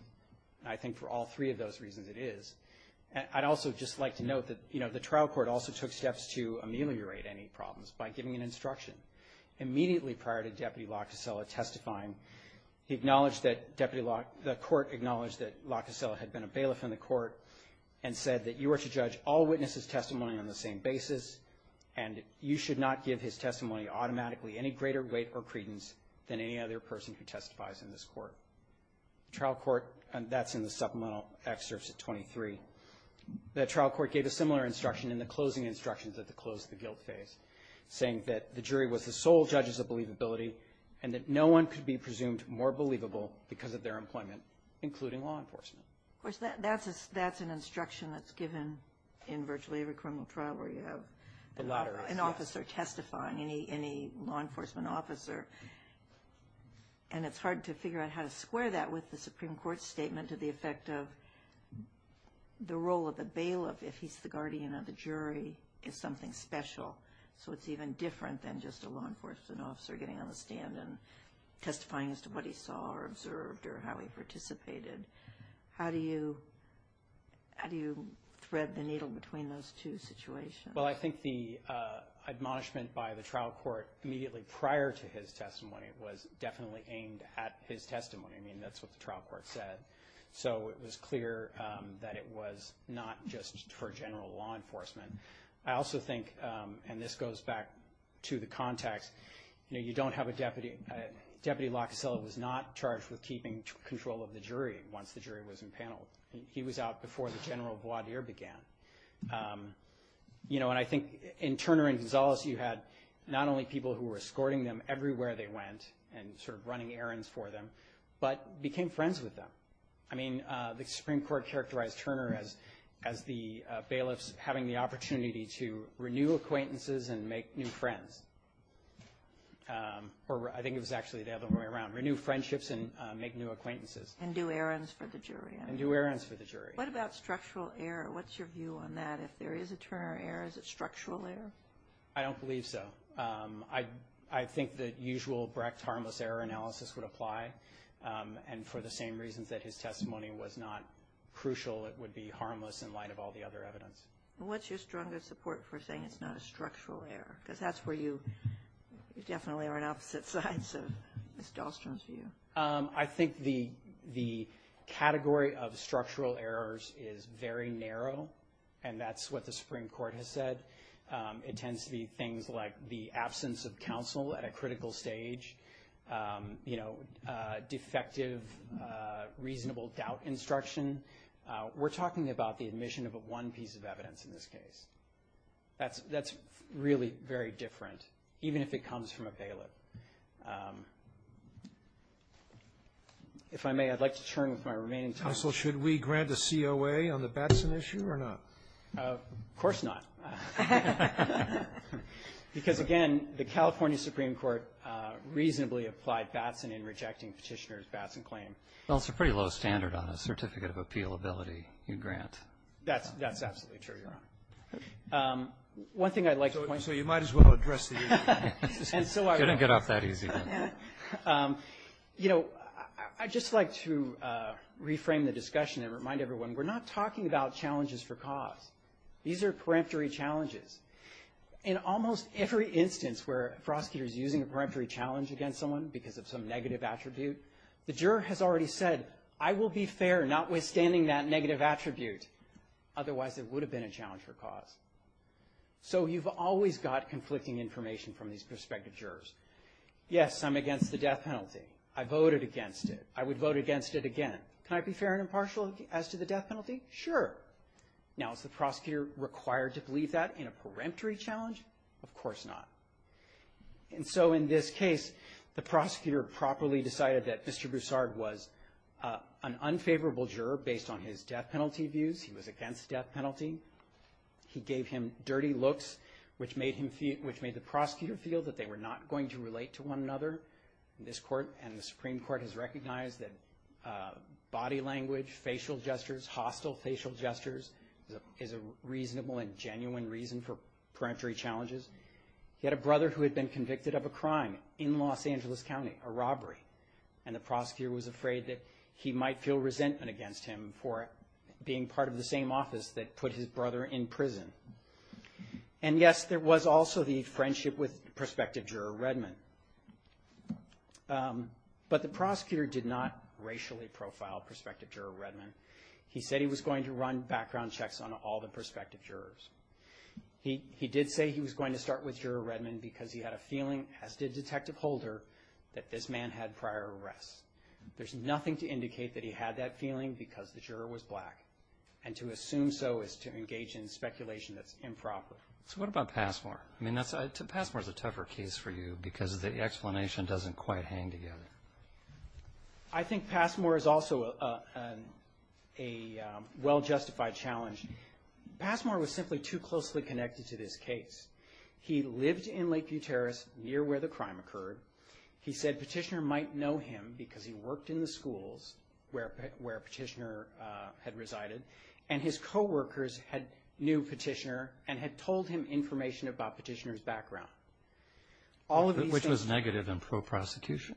And I think for all three of those reasons it is. I'd also just like to note that, you know, the trial court also took steps to ameliorate any problems by giving an instruction. Immediately prior to Deputy LaCassella testifying, he acknowledged that Deputy — the court acknowledged that LaCassella had been a bailiff in the court and said that you are to judge all witnesses' testimony on the same basis, and you should not give his testimony automatically any greater weight or credence than any other person who testifies in this court. Trial court — and that's in the supplemental excerpts at 23. The trial court gave a similar instruction in the closing instructions at the close of the guilt phase, saying that the jury was the sole judges of believability and that no one could be presumed more believable because of their employment, including law enforcement. Of course, that's an instruction that's given in virtually every criminal trial where you have an officer testifying, any law enforcement officer. And it's hard to figure out how to square that with the Supreme Court's statement to the effect of the role of the bailiff, if he's the guardian of the jury, is something special. So it's even different than just a law enforcement officer getting on the stand and testifying as to what he saw or observed or how he participated. How do you thread the needle between those two situations? Well, I think the admonishment by the trial court immediately prior to his testimony was definitely aimed at his testimony. I mean, that's what the trial court said. So it was clear that it was not just for general law enforcement. I also think — and this goes back to the context — you know, you don't have a deputy. Deputy Locasella was not charged with keeping control of the jury once the jury was impaneled. He was out before the general voir dire began. You know, and I think in Turner and Gonzales, you had not only people who were escorting them everywhere they went and sort of running errands for them, but became friends with them. I mean, the Supreme Court characterized Turner as the bailiff's having the opportunity to renew acquaintances and make new friends. Or I think it was actually the other way around — renew friendships and make new acquaintances. And do errands for the jury. And do errands for the jury. What about structural error? What's your view on that? If there is a Turner error, is it structural error? I don't believe so. I think that usual Brecht harmless error analysis would apply. And for the same reasons that his testimony was not crucial, it would be harmless in light of all the other evidence. What's your strongest support for saying it's not a structural error? Because that's where you definitely are on opposite sides of Ms. Dahlstrom's view. I think the category of structural errors is very narrow. And that's what the Supreme Court has said. It tends to be things like the absence of counsel at a critical stage. You know, defective reasonable doubt instruction. We're talking about the admission of one piece of evidence in this case. That's really very different, even if it comes from a bailiff. If I may, I'd like to turn with my remaining time. Counsel, should we grant a COA on the Batson issue or not? Of course not. Because, again, the California Supreme Court reasonably applied Batson in rejecting Petitioner's Batson claim. Well, it's a pretty low standard on a certificate of appealability you grant. That's absolutely true, Your Honor. One thing I'd like to point out. So you might as well address the issue. Couldn't get off that easy. You know, I'd just like to reframe the discussion and remind everyone, we're not talking about challenges for cause. These are peremptory challenges. In almost every instance where a prosecutor is using a peremptory challenge against someone because of some negative attribute, the juror has already said, I will be fair notwithstanding that negative attribute. Otherwise, it would have been a challenge for cause. So you've always got conflicting information from these prospective jurors. Yes, I'm against the death penalty. I voted against it. I would vote against it again. Can I be fair and impartial as to the death penalty? Sure. Now, is the prosecutor required to believe that in a peremptory challenge? Of course not. And so in this case, the prosecutor properly decided that Mr. Broussard was an unfavorable juror based on his death penalty views. He was against death penalty. He gave him dirty looks, which made the prosecutor feel that they were not going to relate to one another. This court and the Supreme Court has recognized that body language, facial gestures, hostile facial gestures, is a reasonable and genuine reason for peremptory challenges. He had a brother who had been convicted of a crime in Los Angeles County, a robbery. And the prosecutor was afraid that he might feel resentment against him for being part of the same office that put his brother in prison. And yes, there was also the friendship with prospective juror Redman. But the prosecutor did not racially profile prospective juror Redman. He said he was going to run background checks on all the prospective jurors. He did say he was going to start with juror Redman because he had a feeling, as did Detective Holder, that this man had prior arrests. There's nothing to indicate that he had that feeling because the juror was black. And to assume so is to engage in speculation that's improper. So what about Passmore? I mean, Passmore's a tougher case for you because the explanation doesn't quite hang together. I think Passmore is also a well-justified challenge. Passmore was simply too closely connected to this case. He lived in Lakeview Terrace near where the crime occurred. He said Petitioner might know him because he worked in the schools where Petitioner had resided. And his co-workers knew Petitioner and had told him information about Petitioner's background. Which was negative and pro-prosecution?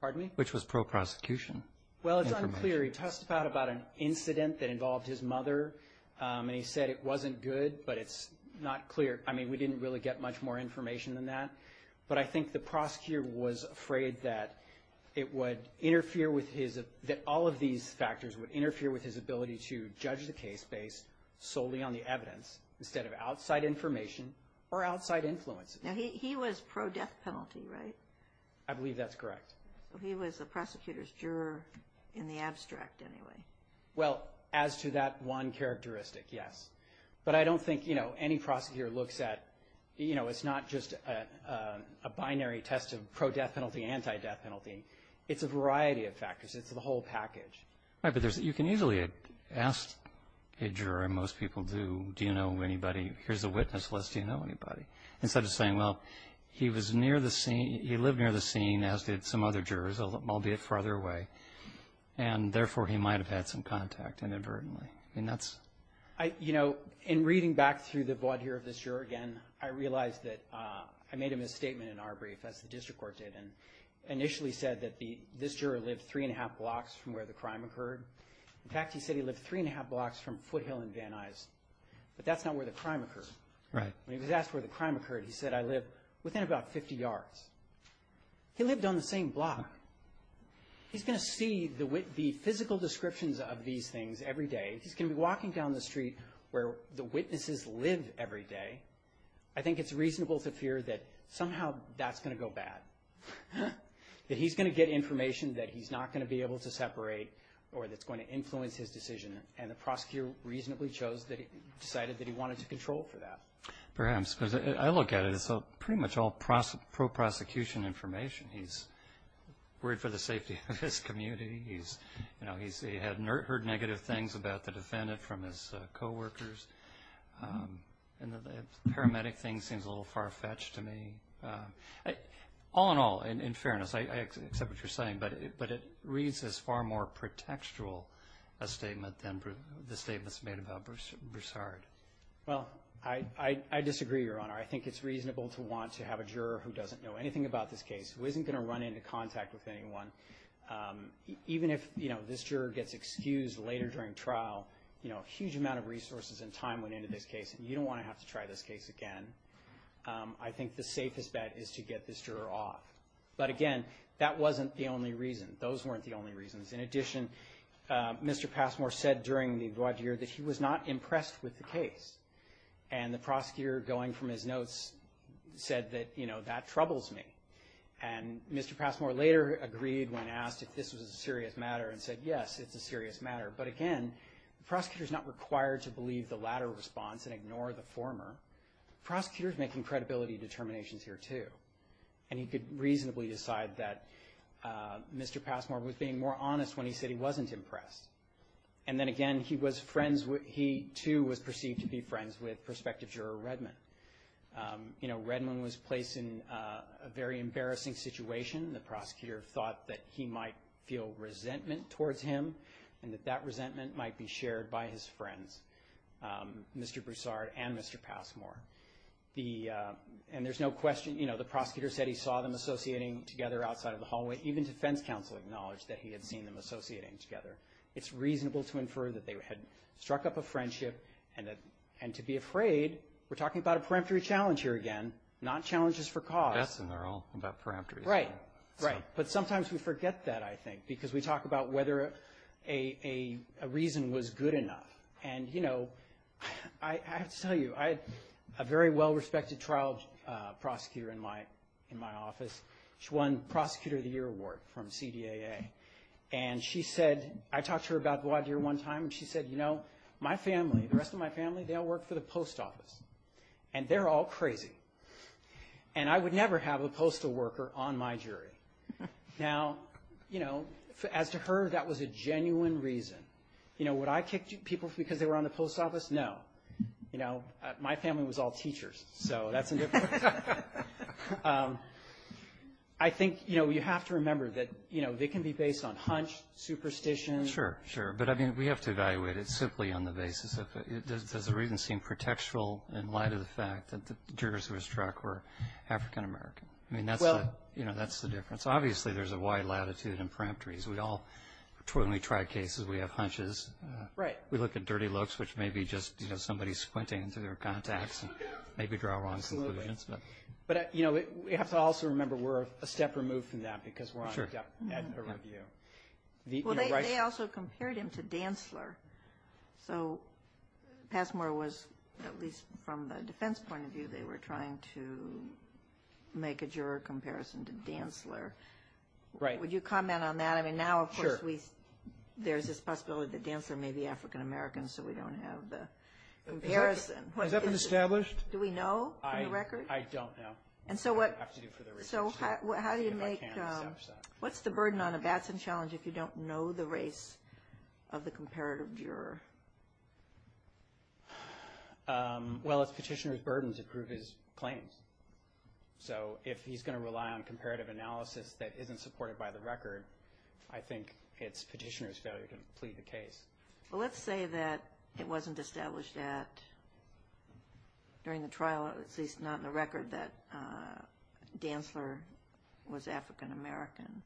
Pardon me? Which was pro-prosecution? Well, it's unclear. He testified about an incident that involved his mother. And he said it wasn't good, but it's not clear. I mean, we didn't really get much more information than that. But I think the prosecutor was afraid that it would interfere with his – that all of these factors would interfere with his ability to judge the case based solely on the evidence instead of outside information or outside influences. Now, he was pro-death penalty, right? I believe that's correct. He was the prosecutor's juror in the abstract, anyway. Well, as to that one characteristic, yes. But I don't think, you know, any prosecutor looks at – you know, it's not just a binary test of pro-death penalty, anti-death penalty. It's a variety of factors. It's the whole package. Right, but there's – you can easily ask a juror, and most people do, do you know anybody – here's a witness list, do you know anybody? Instead of saying, well, he was near the scene – he lived near the scene, as did some other jurors, albeit farther away. And therefore, he might have had some contact inadvertently. I mean, that's – You know, in reading back through the vaudeville of this juror again, I realized that I made a misstatement in our brief, as the district court did, and initially said that this juror lived 3 1⁄2 blocks from where the crime occurred. In fact, he said he lived 3 1⁄2 blocks from Foothill and Van Nuys. But that's not where the crime occurred. Right. When he was asked where the crime occurred, he said, I live within about 50 yards. He lived on the same block. He's going to see the physical descriptions of these things every day. He's going to be walking down the street where the witnesses live every day. I think it's reasonable to fear that somehow that's going to go bad, that he's going to get information that he's not going to be able to separate or that's going to influence his decision, and the prosecutor reasonably decided that he wanted to control for that. Perhaps. Because I look at it as pretty much all pro-prosecution information. He's worried for the safety of his community. He had heard negative things about the defendant from his coworkers. And the paramedic thing seems a little far-fetched to me. All in all, in fairness, I accept what you're saying, but it reads as far more pretextual a statement than the statements made about Broussard. Well, I disagree, Your Honor. I think it's reasonable to want to have a juror who doesn't know anything about this case, who isn't going to run into contact with anyone. Even if this juror gets excused later during trial, a huge amount of resources and time went into this case, and you don't want to have to try this case again, I think the safest bet is to get this juror off. But again, that wasn't the only reason. Those weren't the only reasons. In addition, Mr. Passmore said during the void year that he was not impressed with the case. And the prosecutor, going from his notes, said that, you know, that troubles me. And Mr. Passmore later agreed when asked if this was a serious matter, and said, yes, it's a serious matter. But again, the prosecutor's not required to believe the latter response and ignore the former. The prosecutor's making credibility determinations here, too. And he could reasonably decide that Mr. Passmore was being more honest when he said he wasn't impressed. And then again, he too was perceived to be friends with prospective juror Redmond. You know, Redmond was placed in a very embarrassing situation. The prosecutor thought that he might feel resentment towards him, and that that resentment might be shared by his friends, Mr. Broussard and Mr. Passmore. And there's no question, you know, the prosecutor said he saw them associating together outside of the hallway. Even defense counsel acknowledged that he had seen them associating together. It's reasonable to infer that they had struck up a friendship. And to be afraid, we're talking about a peremptory challenge here again, not challenges for cause. Yes, and they're all about peremptory. Right, right. But sometimes we forget that, I think, because we talk about whether a reason was good enough. And, you know, I have to tell you, I had a very well-respected trial prosecutor in my office. She won Prosecutor of the Year Award from CDAA. And she said, I talked to her about Gwadir one time, and she said, you know, my family, the rest of my family, they all work for the post office. And they're all crazy. And I would never have a postal worker on my jury. Now, you know, as to her, that was a genuine reason. You know, would I kick people because they were on the post office? No. You know, my family was all teachers, so that's a different story. I think, you know, you have to remember that, you know, they can be based on hunch, superstition. Sure, sure. But, I mean, we have to evaluate it simply on the basis of, does the reason seem pretextual in light of the fact that the jurors who were struck were African-American? I mean, that's the difference. Obviously, there's a wide latitude in peremptories. We all, when we try cases, we have hunches. Right. We look at dirty looks, which may be just, you know, somebody squinting through their contacts and maybe draw wrong conclusions. Absolutely. But, you know, we have to also remember we're a step removed from that because we're on depth at the review. Well, they also compared him to Dantzler. So, Passmore was, at least from the defense point of view, they were trying to make a juror comparison to Dantzler. Right. Would you comment on that? Sure. I mean, now, of course, there's this possibility that Dantzler may be African-American, so we don't have the comparison. Has that been established? Do we know from the record? I don't know. I have to do further research. So, how do you make, what's the burden on a Batson challenge if you don't know the race of the comparative juror? Well, it's petitioner's burdens that prove his claims. So, if he's going to rely on comparative analysis that isn't supported by the record, I think it's petitioner's failure to complete the case. Well, let's say that it wasn't established at, during the trial, at least not in the record, that Dantzler was African-American.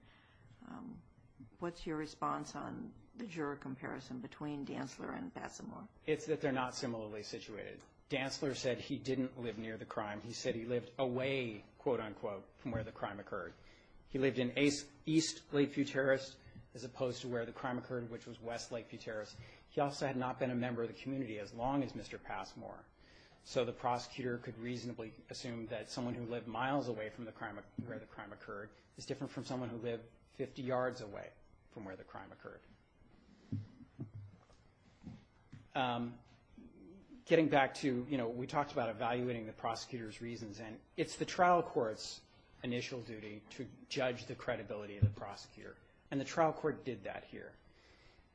What's your response on the juror comparison between Dantzler and Passmore? It's that they're not similarly situated. Dantzler said he didn't live near the crime. He said he lived away, quote-unquote, from where the crime occurred. He lived in east Lake Futerra, as opposed to where the crime occurred, which was west Lake Futerra. He also had not been a member of the community as long as Mr. Passmore. So, the prosecutor could reasonably assume that someone who lived miles away from where the crime occurred is different from someone who lived 50 yards away from where the crime occurred. Getting back to, you know, we talked about evaluating the prosecutor's reasons. And it's the trial court's initial duty to judge the credibility of the prosecutor. And the trial court did that here.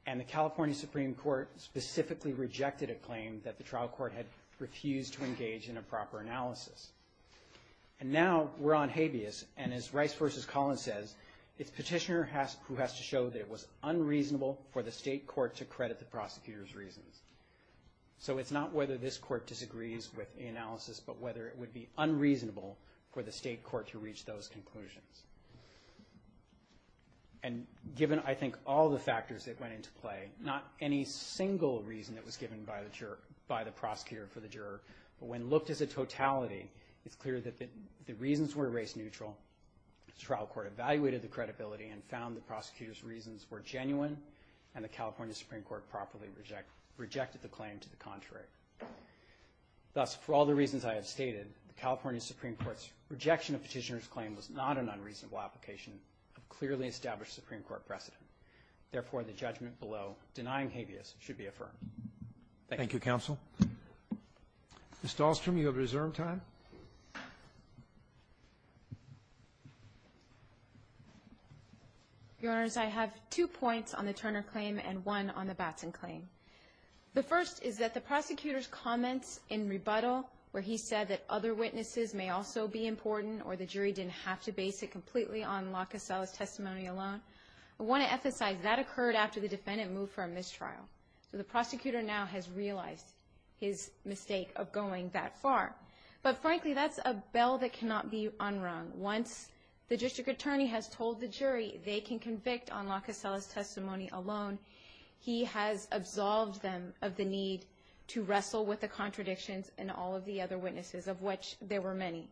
And the California Supreme Court specifically rejected a claim that the trial court had refused to engage in a proper analysis. And now, we're on habeas. And as Rice v. Collins says, it's petitioner who has to show that it was unreasonable for the state court to credit the prosecutor's reasons. So, it's not whether this court disagrees with the analysis, but whether it would be unreasonable for the state court to reach those conclusions. And given, I think, all the factors that went into play, not any single reason that was given by the prosecutor for the juror, but when looked as a totality, it's clear that the reasons were race neutral. The trial court evaluated the credibility and found the prosecutor's reasons were genuine. And the California Supreme Court properly rejected the claim to the contrary. Thus, for all the reasons I have stated, the California Supreme Court's rejection of petitioner's claim was not an unreasonable application of clearly established Supreme Court precedent. Therefore, the judgment below, denying habeas, should be affirmed. Thank you. Thank you, counsel. Ms. Dahlstrom, you have reserve time. Your Honors, I have two points on the Turner claim and one on the Batson claim. The first is that the prosecutor's comments in rebuttal, where he said that other witnesses may also be important or the jury didn't have to base it completely on Locasella's testimony alone, I want to emphasize that occurred after the defendant moved from this trial. So the prosecutor now has realized his mistake of going that far. But frankly, that's a bell that cannot be unrung. Once the district attorney has told the jury they can convict on Locasella's testimony alone, he has absolved them of the need to wrestle with the contradictions and all of the other witnesses, of which there were many.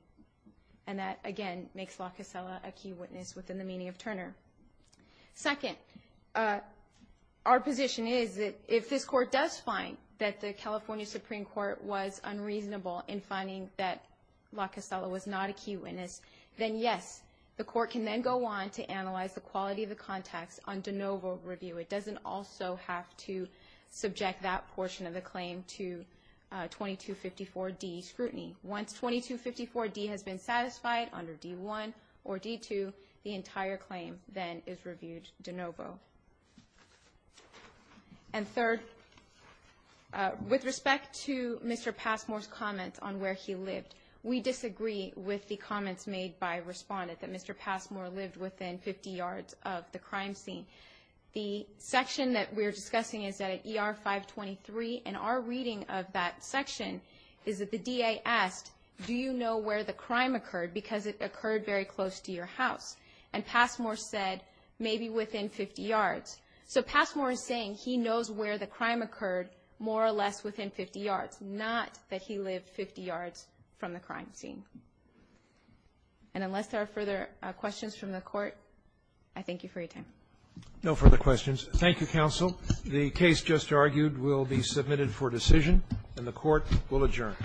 And that, again, makes Locasella a key witness within the meaning of Turner. Second, our position is that if this court does find that the California Supreme Court was unreasonable in finding that Locasella was not a key witness, then yes, the court can then go on to analyze the quality of the contacts on de novo review. It doesn't also have to subject that portion of the claim to 2254D scrutiny. Once 2254D has been satisfied under D1 or D2, the entire claim then is reviewed de novo. And third, with respect to Mr. Passmore's comments on where he lived, we disagree with the comments made by a respondent that Mr. Passmore lived within 50 yards of the crime scene. The section that we're discussing is at ER 523, and our reading of that section is that the DA asked, do you know where the crime occurred because it occurred very close to your house? And Passmore said, maybe within 50 yards. So Passmore is saying he knows where the crime occurred more or less within 50 yards, not that he lived 50 yards from the crime scene. And unless there are further questions from the Court, I thank you for your time. No further questions. Thank you, counsel. The case just argued will be submitted for decision. And the Court will adjourn.